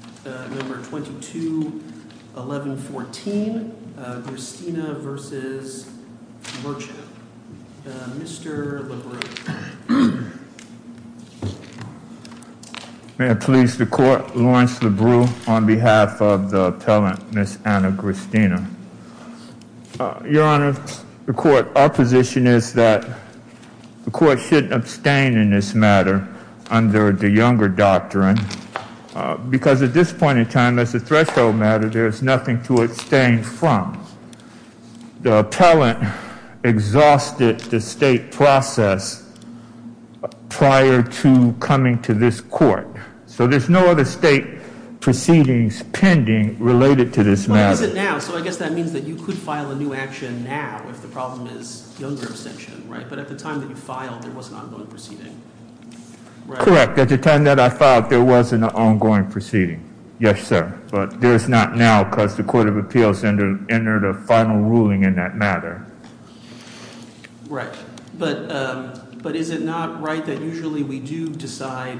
Mr. LeBruyne May I please the court, Lawrence LeBruyne on behalf of the appellant, Ms. Anna Gristina. Your Honor, the court opposition is that the court should abstain in this matter under the Younger Doctrine, because at this point in time, as a threshold matter, there is nothing to abstain from. The appellant exhausted the state process prior to coming to this court. So there's no other state proceedings pending related to this matter. But is it now? So I guess that means that you could file a new action now if the problem is Younger abstention, right? But at the time that you filed, there was an ongoing proceeding, right? Correct. At the time that I filed, there was an ongoing proceeding. Yes, sir. But there's not now because the Court of Appeals entered a final ruling in that matter. Right. But is it not right that usually we do decide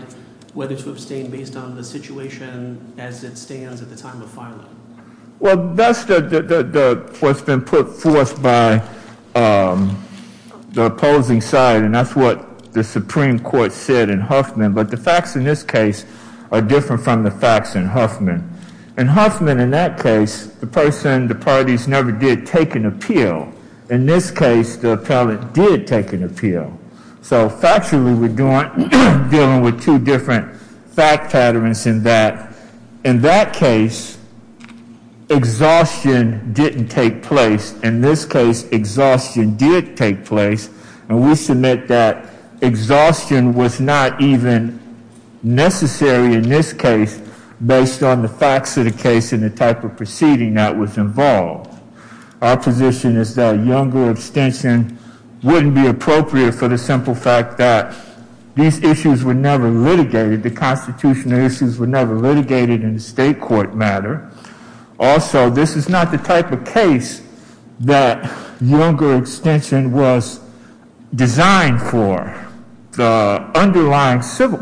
whether to abstain based on the situation as it stands at the time of filing? Well, that's what's been put forth by the opposing side, and that's what the Supreme Court said in Huffman. But the facts in this case are different from the facts in Huffman. In Huffman, in that case, the person, the parties, never did take an appeal. In this case, the appellant did take an appeal. So factually, we're dealing with two different fact patterns in that. In that case, exhaustion didn't take place. In this case, exhaustion did take place. And we submit that exhaustion was not even necessary in this case based on the facts of the case and the type of proceeding that was involved. Our position is that younger abstention wouldn't be appropriate for the simple fact that these issues were never litigated, the constitutional issues were never litigated in a state court matter. Also, this is not the type of case that younger abstention was designed for. The underlying civil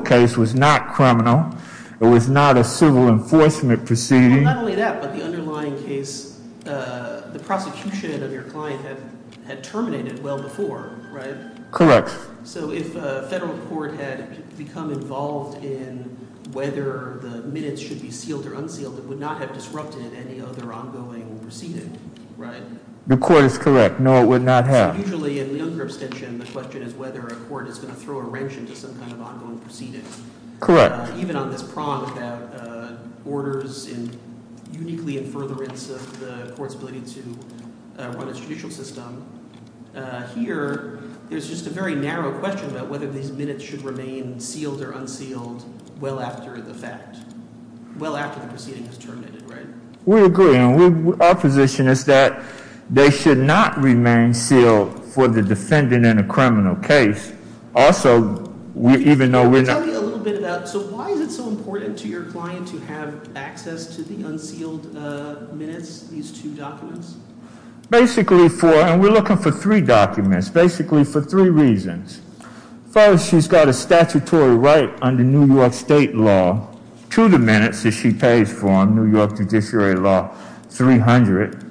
case was not criminal. It was not a civil enforcement proceeding. Well, not only that, but the underlying case, the prosecution of your client had terminated well before, right? Correct. So if a federal court had become involved in whether the minutes should be sealed or unsealed, it would not have disrupted any other ongoing proceeding, right? The court is correct. No, it would not have. Usually, in younger abstention, the question is whether a court is going to throw a wrench into some kind of ongoing proceeding. Correct. Even on this prompt that orders uniquely in furtherance of the court's ability to run the court's judicial system, here, there's just a very narrow question about whether these minutes should remain sealed or unsealed well after the fact, well after the proceeding is terminated, right? We agree. Our position is that they should not remain sealed for the defendant in a criminal case. Also, even though we're not— Can you tell me a little bit about—so why is it so important to your client to have access to the unsealed minutes, these two documents? Basically for—and we're looking for three documents, basically for three reasons. First, she's got a statutory right under New York State law to the minutes that she pays for in New York Judiciary Law 300.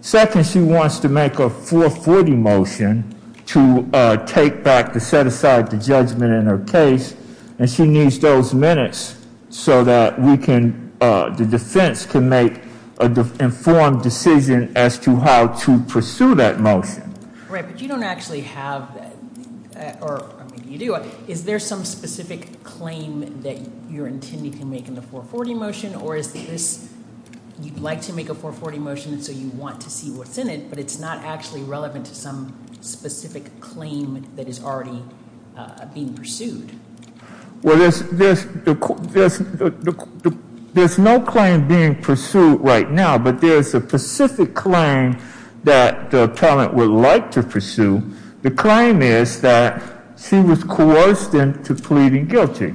Second, she wants to make a 440 motion to take back, to set aside the judgment in her case, and she needs those minutes so that we can—the defense can make an informed decision as to how to pursue that motion. Right, but you don't actually have—or maybe you do. Is there some specific claim that you're intending to make in the 440 motion? Or is this—you'd like to make a 440 motion, so you want to see what's in it, but it's not actually relevant to some specific claim that is already being pursued? Well, there's no claim being pursued right now, but there's a specific claim that the appellant would like to pursue. The claim is that she was coerced into pleading guilty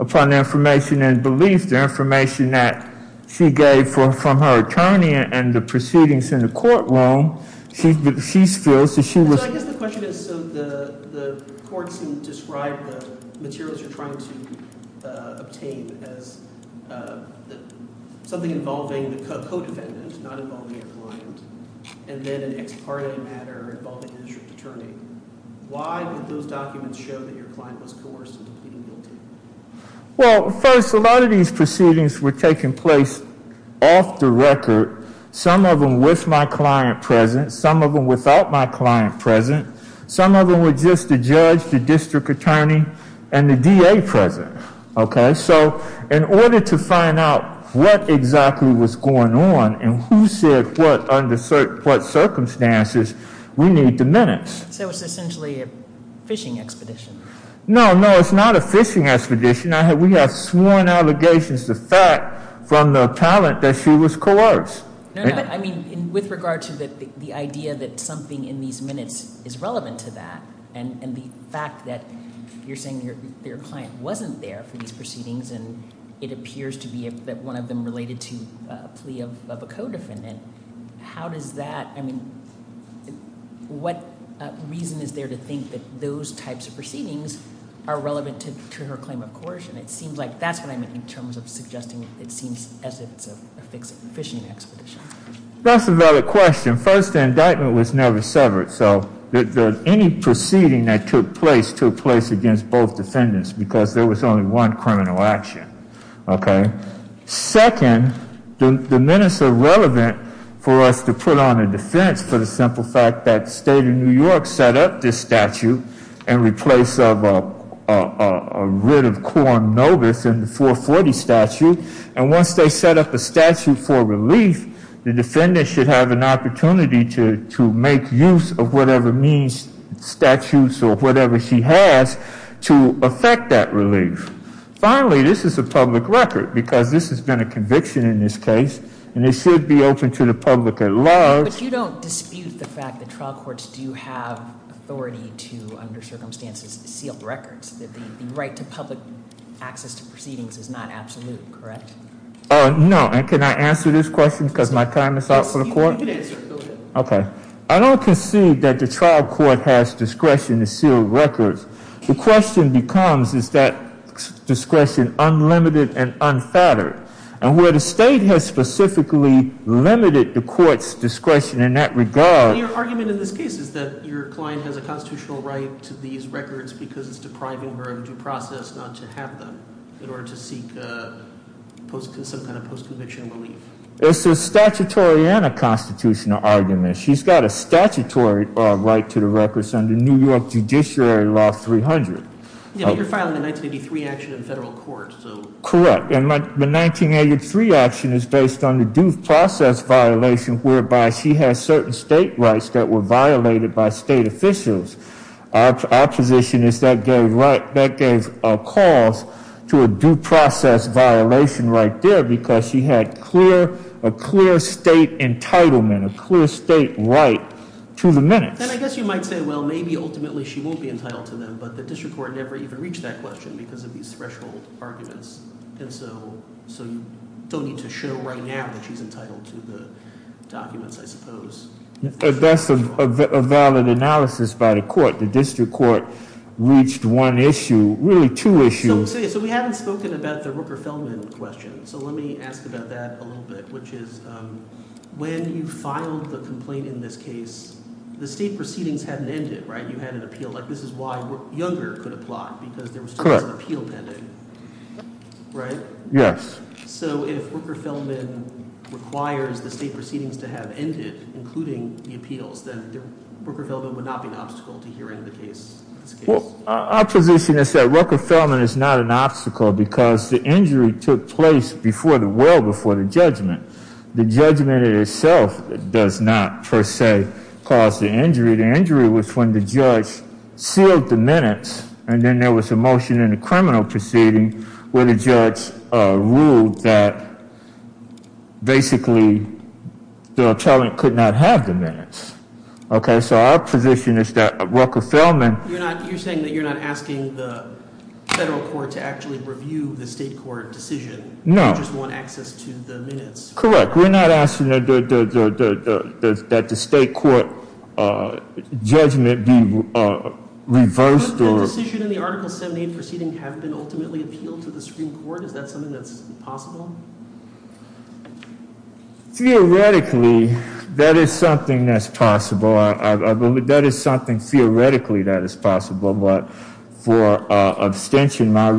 upon information and belief, the information that she gave from her attorney and the proceedings in the courtroom, she feels that she was— So I guess the question is, so the courts who describe the materials you're trying to obtain as something involving the co-defendant, not involving your client, and then an ex parte matter involving the district attorney, why would those documents show that your client was coerced into pleading guilty? Well, first, a lot of these proceedings were taking place off the record, some of them with my client present, some of them without my client present, some of them were just the judge, the district attorney, and the DA present. Okay? So in order to find out what exactly was going on and who said what under what circumstances, we need the minutes. So it's essentially a phishing expedition. No, no, it's not a phishing expedition. We have sworn allegations to fact from the appellant that she was coerced. No, no, but I mean, with regard to the idea that something in these minutes is relevant to that, and the fact that you're saying that your client wasn't there for these proceedings and it appears to be that one of them related to a plea of a co-defendant, how does that— I mean, what reason is there to think that those types of proceedings are relevant to her claim of coercion? It seems like that's what I meant in terms of suggesting it seems as if it's a phishing expedition. That's a valid question. First, the indictment was never severed, so any proceeding that took place took place against both defendants because there was only one criminal action. Okay? Second, the minutes are relevant for us to put on a defense for the simple fact that State of New York set up this statute and replaced a writ of quorum notice in the 440 statute, and once they set up a statute for relief, the defendant should have an opportunity to make use of whatever means, statutes, or whatever she has to effect that relief. Finally, this is a public record because this has been a conviction in this case, and it should be open to the public at large. But you don't dispute the fact that trial courts do have authority to, under circumstances, seal records, that the right to public access to proceedings is not absolute, correct? No. And can I answer this question because my time is up for the court? Yes, you can answer it. Go ahead. Okay. I don't concede that the trial court has discretion to seal records. The question becomes, is that discretion unlimited and unfettered? And where the state has specifically limited the court's discretion in that regard Your argument in this case is that your client has a constitutional right to these records because it's depriving her of due process not to have them in order to seek some kind of post-conviction relief. It's a statutory and a constitutional argument. She's got a statutory right to the records under New York Judiciary Law 300. Yeah, but you're filing a 1983 action in federal court, so Correct. And the 1983 action is based on the due process violation whereby she has certain state rights that were violated by state officials. Our position is that gave a cause to a due process violation right there because she had a clear state entitlement, a clear state right to the minutes. And I guess you might say, well, maybe ultimately she won't be entitled to them, but the district court never even reached that question because of these threshold arguments. And so you don't need to show right now that she's entitled to the documents, I suppose. That's a valid analysis by the court. The district court reached one issue, really two issues. So we haven't spoken about the Rooker-Feldman question. So let me ask about that a little bit, which is when you filed the complaint in this case, the state proceedings hadn't ended, right? You had an appeal. This is why Younger could apply because there was still an appeal pending, right? Yes. So if Rooker-Feldman requires the state proceedings to have ended, including the appeals, then Rooker-Feldman would not be an obstacle to hearing the case. Well, our position is that Rooker-Feldman is not an obstacle because the injury took place well before the judgment. The judgment itself does not, per se, cause the injury. The injury was when the judge sealed the minutes, and then there was a motion in the criminal proceeding where the judge ruled that basically the attorney could not have the minutes. Okay, so our position is that Rooker-Feldman— You're saying that you're not asking the federal court to actually review the state court decision. No. You just want access to the minutes. Correct. We're not asking that the state court judgment be reversed or— But the decision in the Article 78 proceeding have been ultimately appealed to the Supreme Court. Is that something that's possible? Theoretically, that is something that's possible. That is something theoretically that is possible. But for abstention, our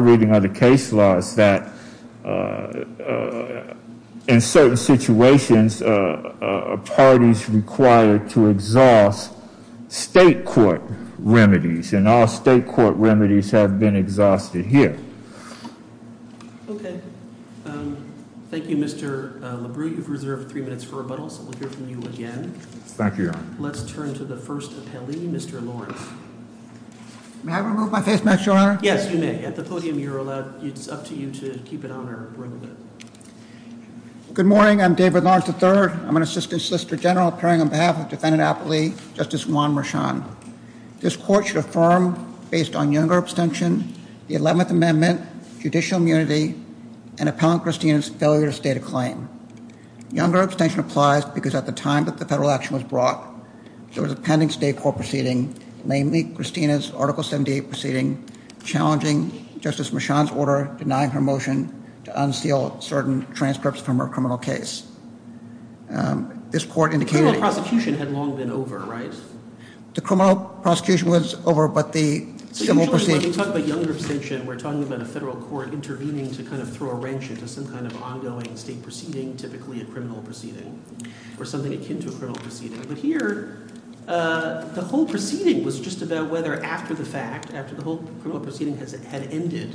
reading of the case law is that in certain situations, a party is required to exhaust state court remedies, and all state court remedies have been exhausted here. Okay. Thank you, Mr. LaBrieu. You've reserved three minutes for rebuttal, so we'll hear from you again. Thank you. Let's turn to the first appellee, Mr. Lawrence. May I remove my face mask, Your Honor? Yes, you may. At the podium, it's up to you to keep it on or remove it. Good morning. I'm David Lawrence III. I'm an assistant solicitor general appearing on behalf of defendant appellee Justice Juan Marchand. This court should affirm, based on younger abstention, the 11th Amendment, judicial immunity, and Appellant Christine's failure to state a claim. Younger abstention applies because at the time that the federal action was brought, there was a pending state court proceeding, namely Christina's Article 78 proceeding, challenging Justice Marchand's order denying her motion to unseal certain transcripts from her criminal case. This court indicated— The criminal prosecution had long been over, right? The criminal prosecution was over, but the civil proceedings— So usually when we talk about younger abstention, we're talking about a federal court intervening to kind of throw a wrench into some kind of ongoing state proceeding, typically a criminal proceeding or something akin to a criminal proceeding. But here, the whole proceeding was just about whether after the fact, after the whole criminal proceeding had ended,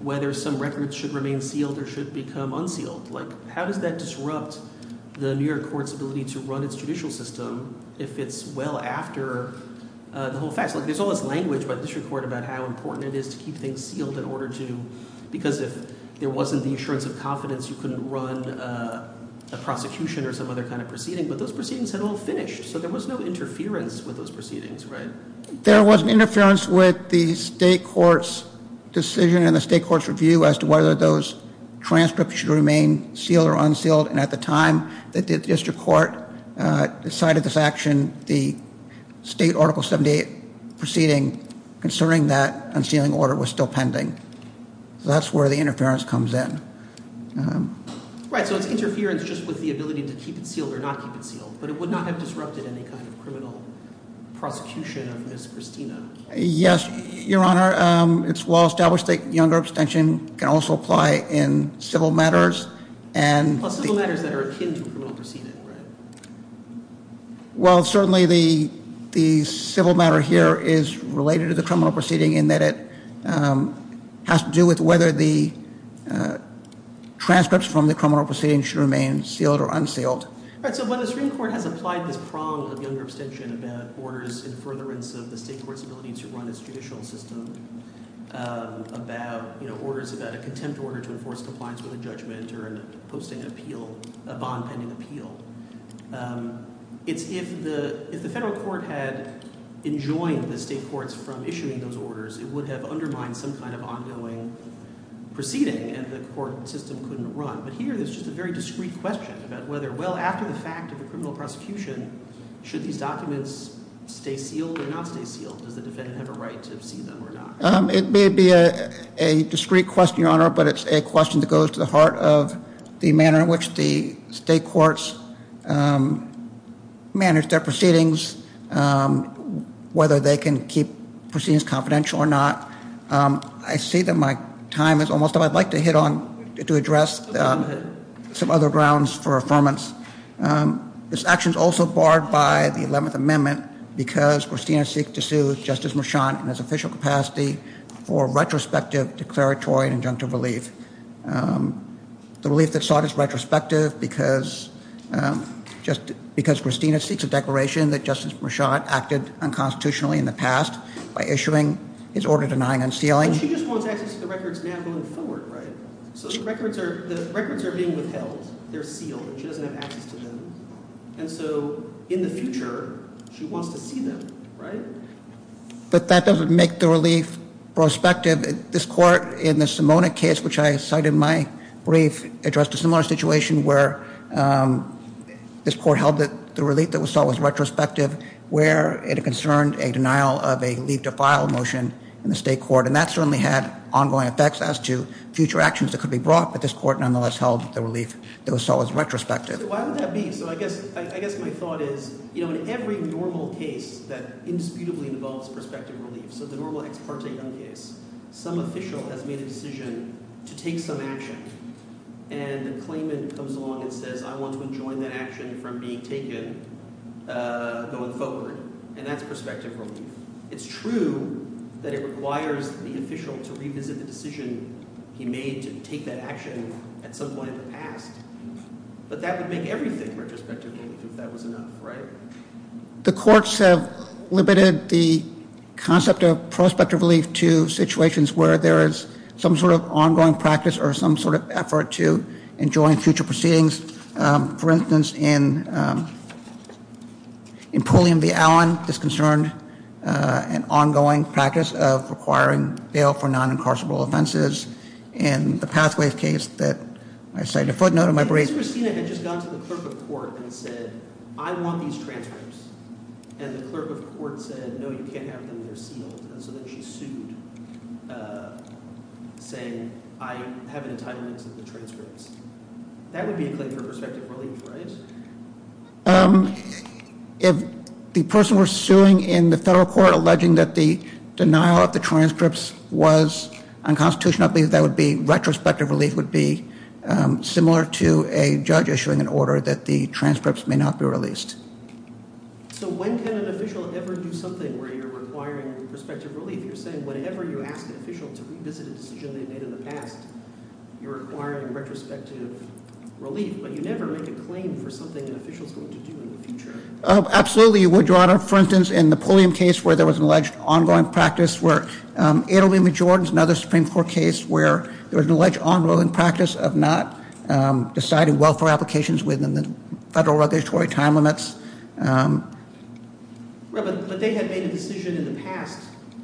whether some records should remain sealed or should become unsealed. Like, how does that disrupt the New York court's ability to run its judicial system if it's well after the whole fact? There's all this language by the district court about how important it is to keep things sealed in order to— because if there wasn't the assurance of confidence, you couldn't run a prosecution or some other kind of proceeding, but those proceedings had all finished, so there was no interference with those proceedings, right? There was interference with the state court's decision and the state court's review as to whether those transcripts should remain sealed or unsealed, and at the time that the district court decided this action, the state Article 78 proceeding concerning that unsealing order was still pending. So that's where the interference comes in. Right, so it's interference just with the ability to keep it sealed or not keep it sealed, but it would not have disrupted any kind of criminal prosecution of Ms. Christina. Yes, Your Honor. It's well established that younger abstention can also apply in civil matters and— in civil matters that are akin to a criminal proceeding, right? Well, certainly the civil matter here is related to the criminal proceeding in that it has to do with whether the transcripts from the criminal proceeding should remain sealed or unsealed. Right, so when the Supreme Court has applied this prong of younger abstention about orders in furtherance of the state court's ability to run its judicial system, about, you know, orders about a contempt order to enforce compliance with a judgment or in posting an appeal, a bond-pending appeal, it's if the federal court had enjoined the state courts from issuing those orders, it would have undermined some kind of ongoing proceeding, and the court system couldn't run. But here there's just a very discreet question about whether, well, after the fact of a criminal prosecution, should these documents stay sealed or not stay sealed? Does the defendant have a right to see them or not? It may be a discreet question, Your Honor, but it's a question that goes to the heart of the manner in which the state courts manage their proceedings, whether they can keep proceedings confidential or not. I see that my time is almost up. I'd like to hit on—to address some other grounds for affirmance. This action is also barred by the 11th Amendment because Christina seeks to sue Justice Marchand in his official capacity for retrospective declaratory and injunctive relief, the relief that's sought as retrospective because Christina seeks a declaration that Justice Marchand acted unconstitutionally in the past by issuing his order denying unsealing. But she just wants access to the records now going forward, right? So the records are being withheld. They're sealed. She doesn't have access to them. And so in the future, she wants to see them, right? But that doesn't make the relief prospective. This court in the Simona case, which I cited in my brief, addressed a similar situation where this court held that the relief that was sought was retrospective where it concerned a denial of a leave to file motion in the state court. And that certainly had ongoing effects as to future actions that could be brought, but this court nonetheless held the relief that was sought was retrospective. Why would that be? So I guess my thought is, you know, in every normal case that indisputably involves prospective relief, so the normal ex parte young case, some official has made a decision to take some action and the claimant comes along and says, I want to enjoin that action from being taken going forward, and that's prospective relief. It's true that it requires the official to revisit the decision he made to take that action at some point in the past, but that would make everything retrospective relief if that was enough, right? The courts have limited the concept of prospective relief to situations where there is some sort of ongoing practice or some sort of effort to enjoin future proceedings. For instance, in Pulliam v. Allen, this concerned an ongoing practice of requiring bail for non-incarcerable offenses. In the Pathways case that I cited a footnote in my brief. If Christina had just gone to the clerk of court and said, I want these transcripts, and the clerk of court said, no, you can't have them, they're sealed, so then she sued, saying, I have an entitlement to the transcripts. That would be a claim for prospective relief, right? If the person were suing in the federal court alleging that the denial of the transcripts was unconstitutional, I believe that retrospective relief would be similar to a judge issuing an order that the transcripts may not be released. So when can an official ever do something where you're requiring prospective relief? You're saying whenever you ask an official to revisit a decision they made in the past, you're requiring retrospective relief, but you never make a claim for something an official is going to do in the future. Absolutely, you would, Your Honor. For instance, in the Pulliam case where there was an alleged ongoing practice, where Adelman v. Jordans, another Supreme Court case, where there was an alleged ongoing practice of not deciding welfare applications within the federal regulatory time limits. But they had made a decision in the past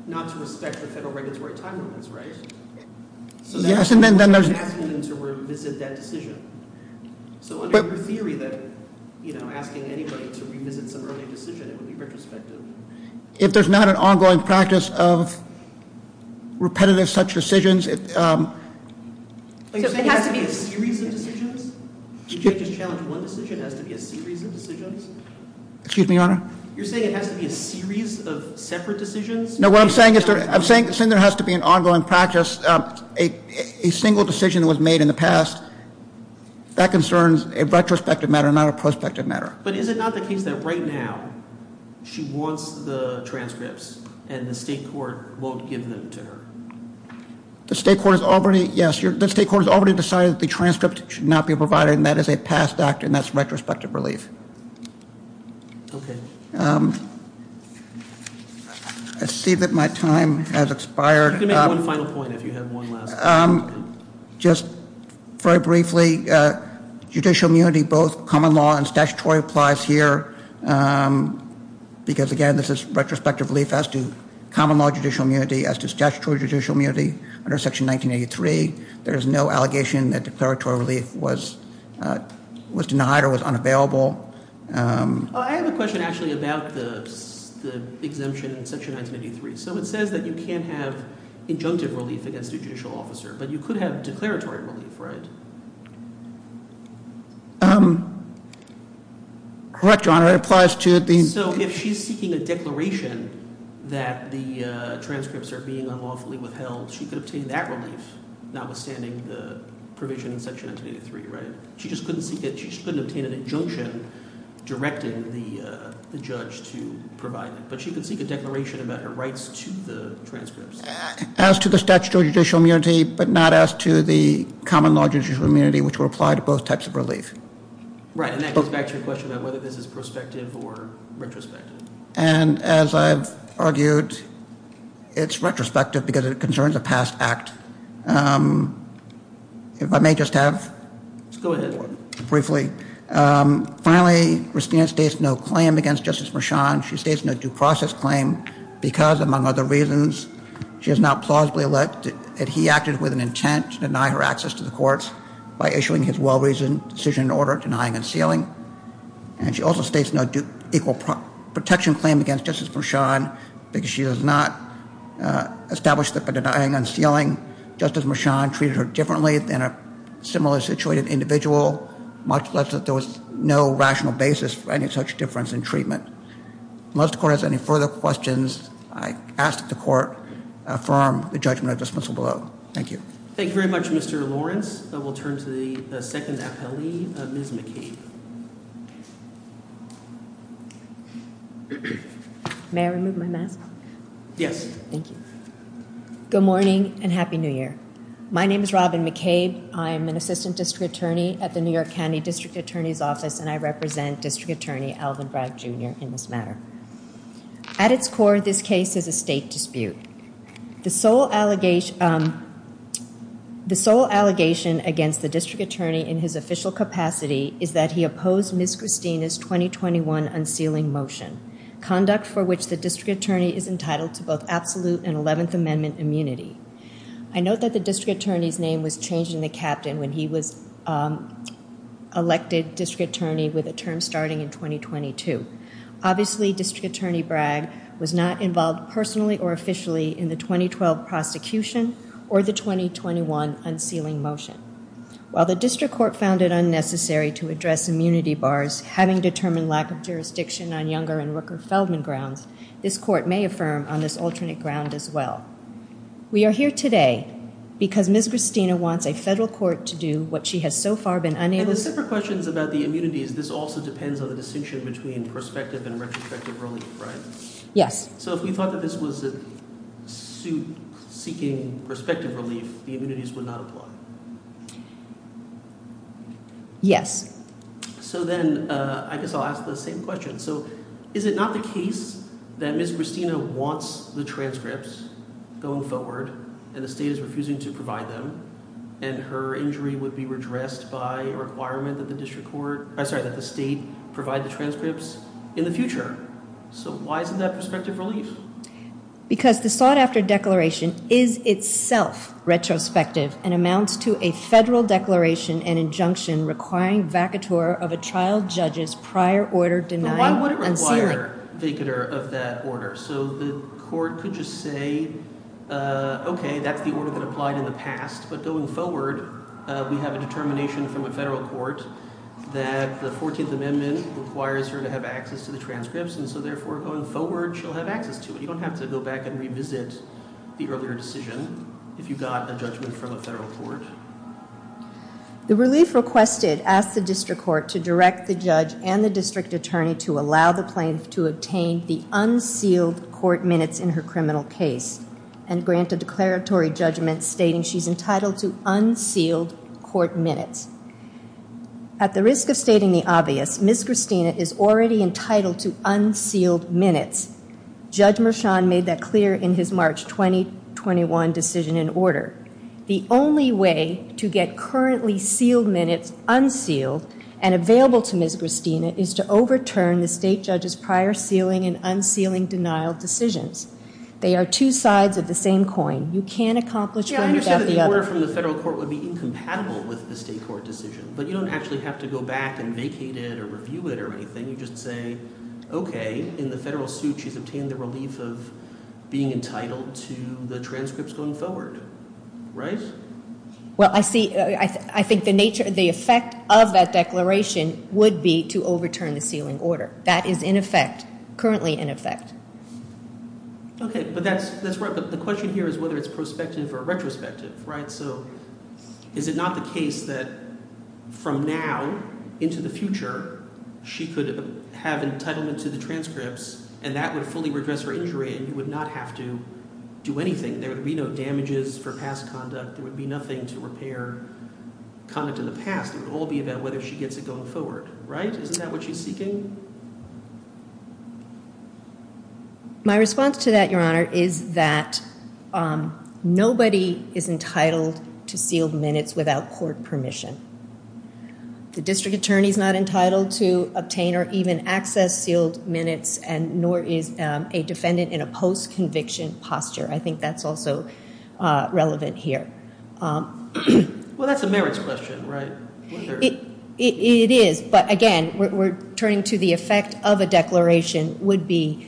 not to respect the federal regulatory time limits, right? Yes, and then there's – So that's why you're asking them to revisit that decision. So under your theory that, you know, asking anybody to revisit some early decision, it would be retrospective. If there's not an ongoing practice of repetitive such decisions – So it has to be a series of decisions? You can't just challenge one decision, it has to be a series of decisions? Excuse me, Your Honor? You're saying it has to be a series of separate decisions? No, what I'm saying is there has to be an ongoing practice. A single decision that was made in the past, that concerns a retrospective matter, not a prospective matter. But is it not the case that right now she wants the transcripts and the state court won't give them to her? The state court has already – yes, the state court has already decided that the transcript should not be provided, and that is a past act, and that's retrospective relief. Okay. I see that my time has expired. You can make one final point if you have one last comment. Just very briefly, judicial immunity, both common law and statutory, applies here, because, again, this is retrospective relief as to common law judicial immunity, as to statutory judicial immunity under Section 1983. There is no allegation that declaratory relief was denied or was unavailable. I have a question, actually, about the exemption in Section 1983. So it says that you can't have injunctive relief against a judicial officer, but you could have declaratory relief, right? Correct, Your Honor. It applies to the – So if she's seeking a declaration that the transcripts are being unlawfully withheld, she could obtain that relief, notwithstanding the provision in Section 1983, right? She just couldn't seek it. She just couldn't obtain an injunction directing the judge to provide it, but she could seek a declaration about her rights to the transcripts. As to the statutory judicial immunity, but not as to the common law judicial immunity, which would apply to both types of relief. Right, and that goes back to your question about whether this is prospective or retrospective. And as I've argued, it's retrospective because it concerns a past act. If I may just have – Go ahead. Briefly. Finally, Christina states no claim against Justice Marchand. She states no due process claim because, among other reasons, she has not plausibly alleged that he acted with an intent to deny her access to the courts by issuing his well-reasoned decision in order denying unsealing. And she also states no equal protection claim against Justice Marchand because she has not established that by denying unsealing, Justice Marchand treated her differently than a similarly situated individual, much less that there was no rational basis for any such difference in treatment. Unless the Court has any further questions, I ask that the Court affirm the judgment at dismissal below. Thank you. Thank you very much, Mr. Lawrence. We'll turn to the second appellee, Ms. McKee. Thank you. May I remove my mask? Yes. Thank you. Good morning and Happy New Year. My name is Robin McKee. I'm an assistant district attorney at the New York County District Attorney's Office, and I represent District Attorney Alvin Bragg, Jr. in this matter. At its core, this case is a state dispute. The sole allegation against the district attorney in his official capacity is that he opposed Ms. Christina's 2021 unsealing motion, conduct for which the district attorney is entitled to both absolute and 11th Amendment immunity. I note that the district attorney's name was changed in the captain when he was elected district attorney with a term starting in 2022. Obviously, District Attorney Bragg was not involved personally or officially in the 2012 prosecution or the 2021 unsealing motion. While the district court found it unnecessary to address immunity bars, having determined lack of jurisdiction on Younger and Rooker-Feldman grounds, this court may affirm on this alternate ground as well. We are here today because Ms. Christina wants a federal court to do what she has so far been unable to do. In the separate questions about the immunities, this also depends on the distinction between prospective and retrospective relief, right? Yes. So if we thought that this was a suit seeking prospective relief, the immunities would not apply? Yes. So then I guess I'll ask the same question. So is it not the case that Ms. Christina wants the transcripts going forward and the state is refusing to provide them and her injury would be redressed by a requirement that the state provide the transcripts in the future? So why isn't that prospective relief? Because the sought-after declaration is itself retrospective and amounts to a federal declaration and injunction requiring vacatur of a trial judge's prior order denied unsealing. So why would it require vacatur of that order? So the court could just say, okay, that's the order that applied in the past, but going forward we have a determination from a federal court that the 14th Amendment requires her to have access to the transcripts and so therefore going forward she'll have access to it. You don't have to go back and revisit the earlier decision if you got a judgment from a federal court. The relief requested asks the district court to direct the judge and the district attorney to allow the plaintiff to obtain the unsealed court minutes in her criminal case and grant a declaratory judgment stating she's entitled to unsealed court minutes. At the risk of stating the obvious, Ms. Christina is already entitled to unsealed minutes. Judge Mershon made that clear in his March 2021 decision in order. The only way to get currently sealed minutes unsealed and available to Ms. Christina is to overturn the state judge's prior sealing and unsealing denial decisions. They are two sides of the same coin. You can't accomplish one without the other. Yeah, I understand that the order from the federal court would be incompatible with the state court decision, but you don't actually have to go back and vacate it or review it or anything. You just say, okay, in the federal suit she's obtained the relief of being entitled to the transcripts going forward, right? Well, I think the effect of that declaration would be to overturn the sealing order. That is in effect, currently in effect. Okay, but the question here is whether it's prospective or retrospective, right? So is it not the case that from now into the future she could have entitlement to the transcripts and that would fully regress her injury and you would not have to do anything? There would be no damages for past conduct. There would be nothing to repair conduct in the past. It would all be about whether she gets it going forward, right? Isn't that what she's seeking? My response to that, Your Honor, is that nobody is entitled to sealed minutes without court permission. The district attorney is not entitled to obtain or even access sealed minutes nor is a defendant in a post-conviction posture. I think that's also relevant here. Well, that's a merits question, right? It is, but again, we're turning to the effect of a declaration would be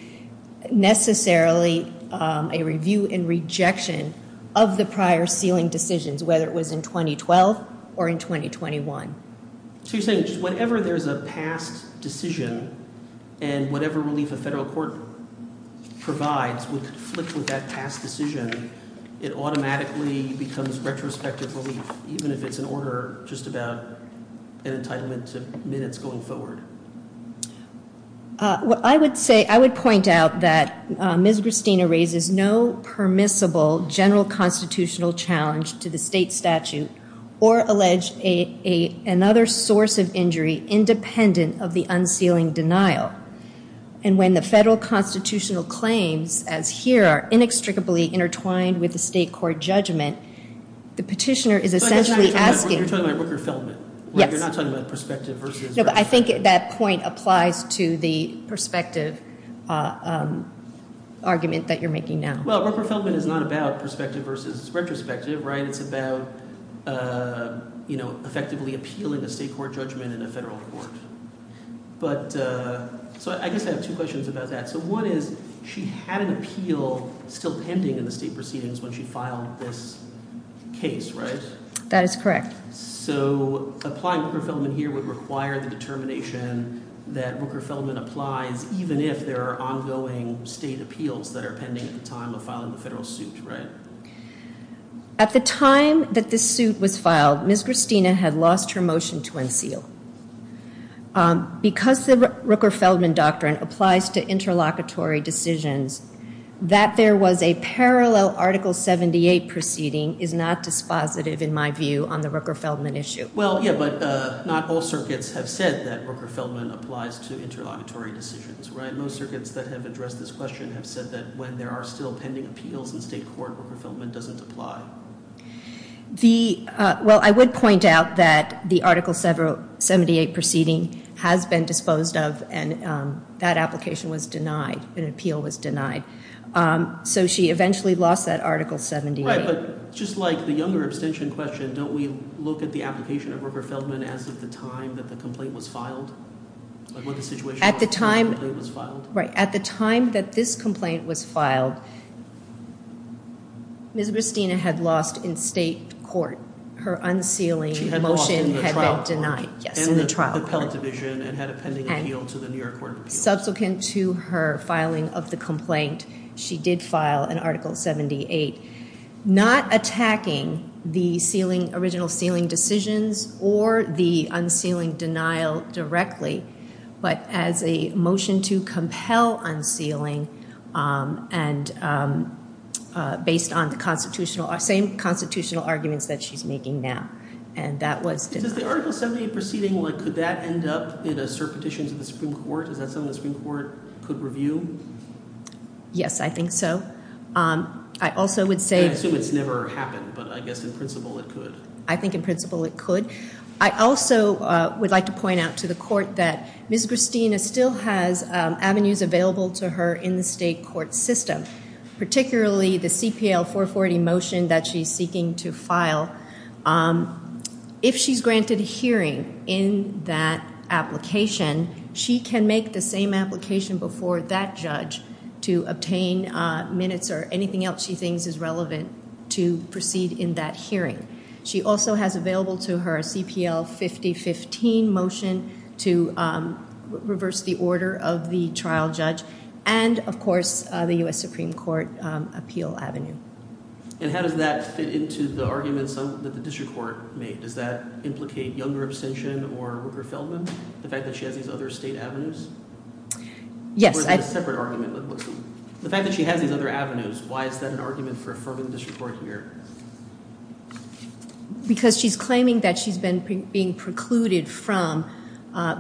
necessarily a review and rejection of the prior sealing decisions, whether it was in 2012 or in 2021. So you're saying just whenever there's a past decision and whatever relief a federal court provides would conflict with that past decision, it automatically becomes retrospective relief, even if it's in order, just about an entitlement to minutes going forward? I would point out that Ms. Gristina raises no permissible general constitutional challenge to the state statute or allege another source of injury independent of the unsealing denial. And when the federal constitutional claims, as here, are inextricably intertwined with the state court judgment, the petitioner is essentially asking. You're talking about Rooker-Feldman. Yes. You're not talking about perspective versus retrospective. No, but I think that point applies to the perspective argument that you're making now. Well, Rooker-Feldman is not about perspective versus retrospective, right? It's about effectively appealing a state court judgment in a federal court. So I guess I have two questions about that. So one is she had an appeal still pending in the state proceedings when she filed this case, right? That is correct. So applying Rooker-Feldman here would require the determination that Rooker-Feldman applies, even if there are ongoing state appeals that are pending at the time of filing the federal suit, right? At the time that this suit was filed, Ms. Christina had lost her motion to unseal. Because the Rooker-Feldman doctrine applies to interlocutory decisions, that there was a parallel Article 78 proceeding is not dispositive, in my view, on the Rooker-Feldman issue. Well, yeah, but not all circuits have said that Rooker-Feldman applies to interlocutory decisions, right? No circuits that have addressed this question have said that when there are still pending appeals in state court, Rooker-Feldman doesn't apply. Well, I would point out that the Article 78 proceeding has been disposed of, and that application was denied. An appeal was denied. So she eventually lost that Article 78. Right, but just like the younger abstention question, don't we look at the application of Rooker-Feldman as of the time that the complaint was filed? At the time that this complaint was filed, Ms. Christina had lost in state court. Her unsealing motion had been denied. She had lost in the trial court, in the appellate division, and had a pending appeal to the New York Court of Appeals. Subsequent to her filing of the complaint, she did file an Article 78. Not attacking the original sealing decisions or the unsealing denial directly, but as a motion to compel unsealing based on the same constitutional arguments that she's making now, and that was denied. Does the Article 78 proceeding, could that end up in a cert petition to the Supreme Court? Is that something the Supreme Court could review? Yes, I think so. I assume it's never happened, but I guess in principle it could. I think in principle it could. I also would like to point out to the court that Ms. Christina still has avenues available to her in the state court system, particularly the CPL 440 motion that she's seeking to file. If she's granted a hearing in that application, she can make the same application before that judge to obtain minutes or anything else she thinks is relevant to proceed in that hearing. She also has available to her a CPL 5015 motion to reverse the order of the trial judge and, of course, the U.S. Supreme Court appeal avenue. And how does that fit into the arguments that the district court made? Does that implicate younger abstention or Rupert Feldman, the fact that she has these other state avenues? Yes. Or is it a separate argument? The fact that she has these other avenues, why is that an argument for affirming the district court here? Because she's claiming that she's been being precluded from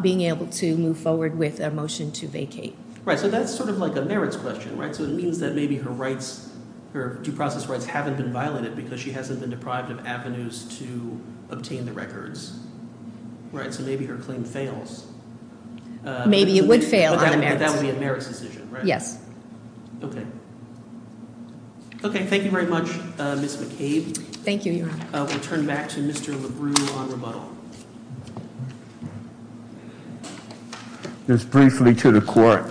being able to move forward with a motion to vacate. Right, so that's sort of like a merits question, right? Because her due process rights haven't been violated because she hasn't been deprived of avenues to obtain the records. Right, so maybe her claim fails. Maybe it would fail on a merits. But that would be a merits decision, right? Yes. Okay. Okay, thank you very much, Ms. McCabe. Thank you, Your Honor. We'll turn back to Mr. LaGru on rebuttal. Just briefly to the court.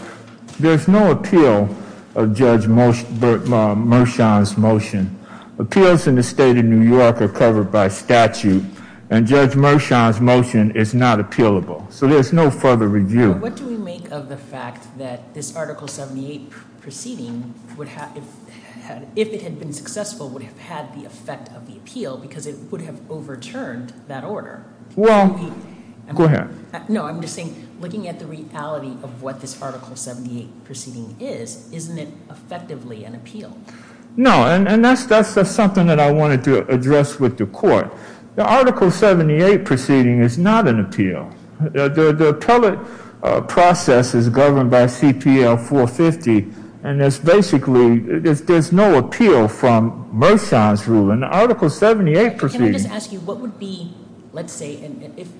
There's no appeal of Judge Mershon's motion. Appeals in the state of New York are covered by statute, and Judge Mershon's motion is not appealable. So there's no further review. What do we make of the fact that this Article 78 proceeding, if it had been successful, would have had the effect of the appeal because it would have overturned that order? Well, go ahead. No, I'm just saying, looking at the reality of what this Article 78 proceeding is, isn't it effectively an appeal? No, and that's something that I wanted to address with the court. The Article 78 proceeding is not an appeal. The appellate process is governed by CPL 450, and there's basically no appeal from Mershon's ruling. The Article 78 proceeding-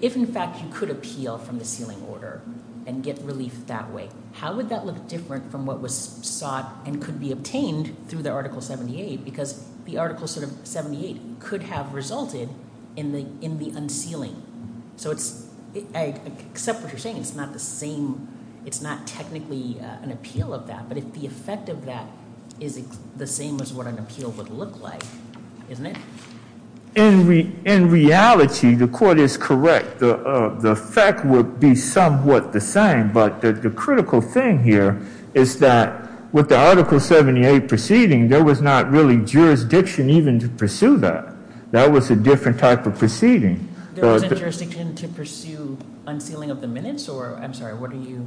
If, in fact, you could appeal from the sealing order and get relief that way, how would that look different from what was sought and could be obtained through the Article 78? Because the Article 78 could have resulted in the unsealing. So I accept what you're saying. It's not technically an appeal of that, but if the effect of that is the same as what an appeal would look like, isn't it? In reality, the court is correct. The effect would be somewhat the same, but the critical thing here is that with the Article 78 proceeding, there was not really jurisdiction even to pursue that. That was a different type of proceeding. There wasn't jurisdiction to pursue unsealing of the minutes? I'm sorry, what are you-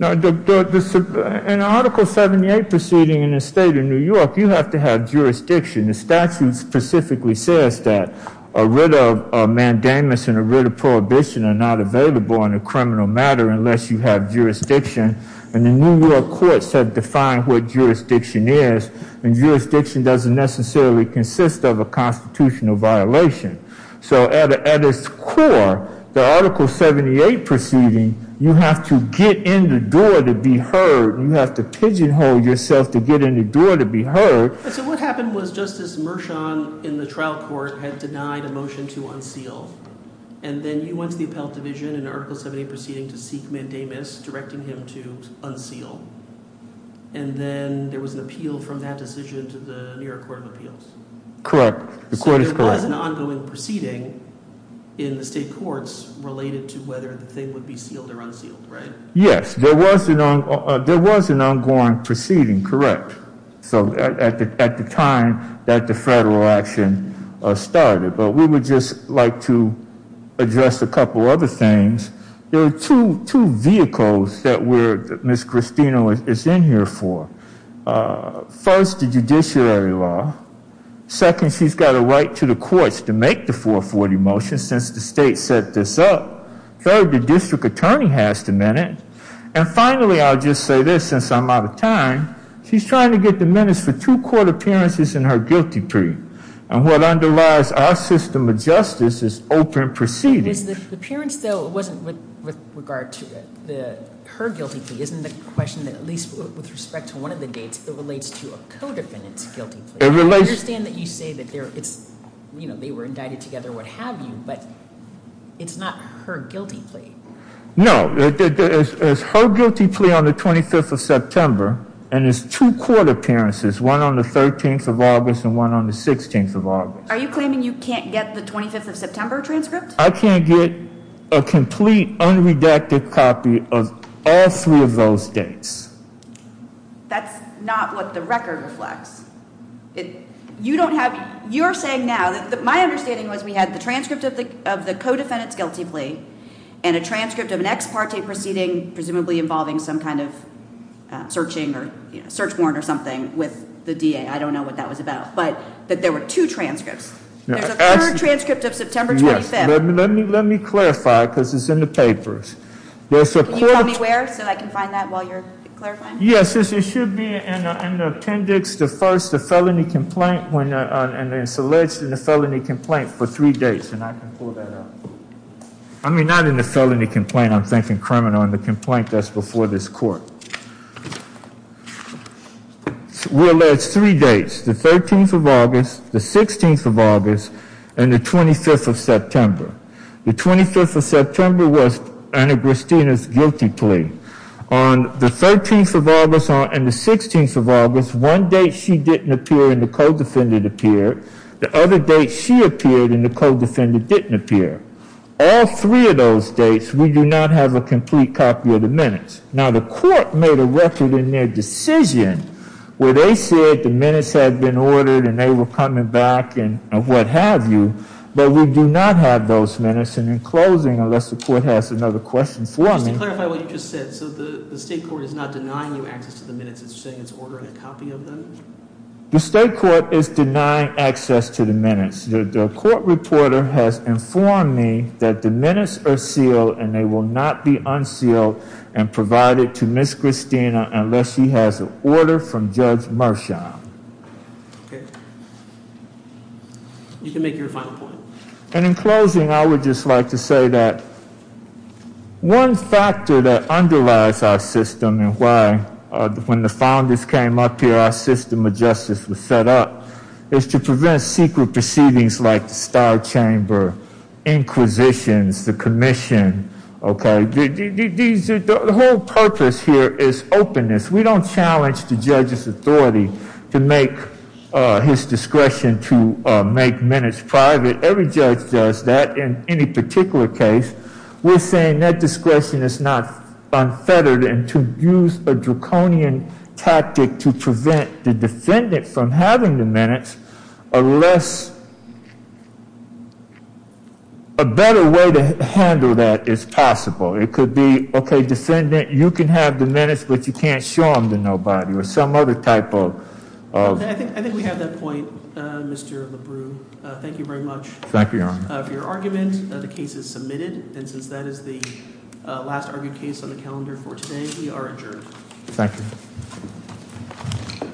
In the Article 78 proceeding in the state of New York, you have to have jurisdiction. The statute specifically says that a writ of mandamus and a writ of prohibition are not available in a criminal matter unless you have jurisdiction. And the New York courts have defined what jurisdiction is, and jurisdiction doesn't necessarily consist of a constitutional violation. So at its core, the Article 78 proceeding, you have to get in the door to be heard. You have to pigeonhole yourself to get in the door to be heard. So what happened was Justice Mershon in the trial court had denied a motion to unseal. And then you went to the appellate division in the Article 78 proceeding to seek mandamus, directing him to unseal. And then there was an appeal from that decision to the New York Court of Appeals. Correct. The court is correct. There was an ongoing proceeding in the state courts related to whether the thing would be sealed or unsealed, right? Yes, there was an ongoing proceeding, correct, at the time that the federal action started. But we would just like to address a couple other things. There are two vehicles that Ms. Cristino is in here for. First, the judiciary law. Second, she's got a right to the courts to make the 440 motion since the state set this up. Third, the district attorney has the minute. And finally, I'll just say this since I'm out of time, she's trying to get the minutes for two court appearances in her guilty plea. And what underlies our system of justice is open proceedings. The appearance, though, wasn't with regard to her guilty plea. Isn't the question that at least with respect to one of the dates, it relates to a co-defendant's guilty plea? I understand that you say that they were indicted together, what have you, but it's not her guilty plea. No, it's her guilty plea on the 25th of September. And it's two court appearances, one on the 13th of August and one on the 16th of August. Are you claiming you can't get the 25th of September transcript? I can't get a complete unredacted copy of all three of those dates. That's not what the record reflects. You don't have, you're saying now, my understanding was we had the transcript of the co-defendant's guilty plea and a transcript of an ex parte proceeding presumably involving some kind of searching or search warrant or something with the DA. I don't know what that was about, but that there were two transcripts. There's a third transcript of September 25th. Let me clarify, because it's in the papers. Can you tell me where so I can find that while you're clarifying? Yes, it should be in the appendix, the first, the felony complaint, and it's alleged in the felony complaint for three dates. And I can pull that up. I mean, not in the felony complaint, I'm thinking criminal in the complaint that's before this court. We're alleged three dates, the 13th of August, the 16th of August, and the 25th of September. The 25th of September was Anna Christina's guilty plea. On the 13th of August and the 16th of August, one date she didn't appear and the co-defendant appeared. The other date she appeared and the co-defendant didn't appear. All three of those dates, we do not have a complete copy of the minutes. Now, the court made a record in their decision where they said the minutes had been ordered and they were coming back and what have you. But we do not have those minutes. And in closing, unless the court has another question for me. Just to clarify what you just said, so the state court is not denying you access to the minutes, it's saying it's ordering a copy of them? The court reporter has informed me that the minutes are sealed and they will not be unsealed and provided to Miss Christina unless she has an order from Judge Marchand. You can make your final point. And in closing, I would just like to say that one factor that underlies our system and why, when the founders came up here, our system of justice was set up, is to prevent secret proceedings like the Starr Chamber, inquisitions, the commission. Okay. The whole purpose here is openness. We don't challenge the judge's authority to make his discretion to make minutes private. Every judge does that in any particular case. We're saying that discretion is not unfettered and to use a draconian tactic to prevent the defendant from having the minutes, unless a better way to handle that is possible. It could be, okay, defendant, you can have the minutes, but you can't show them to nobody or some other type of... I think we have that point, Mr. LaBru. Thank you very much. Thank you, Your Honor. For your argument, the case is submitted. And since that is the last argued case on the calendar for today, we are adjourned. Thank you. Court stands adjourned.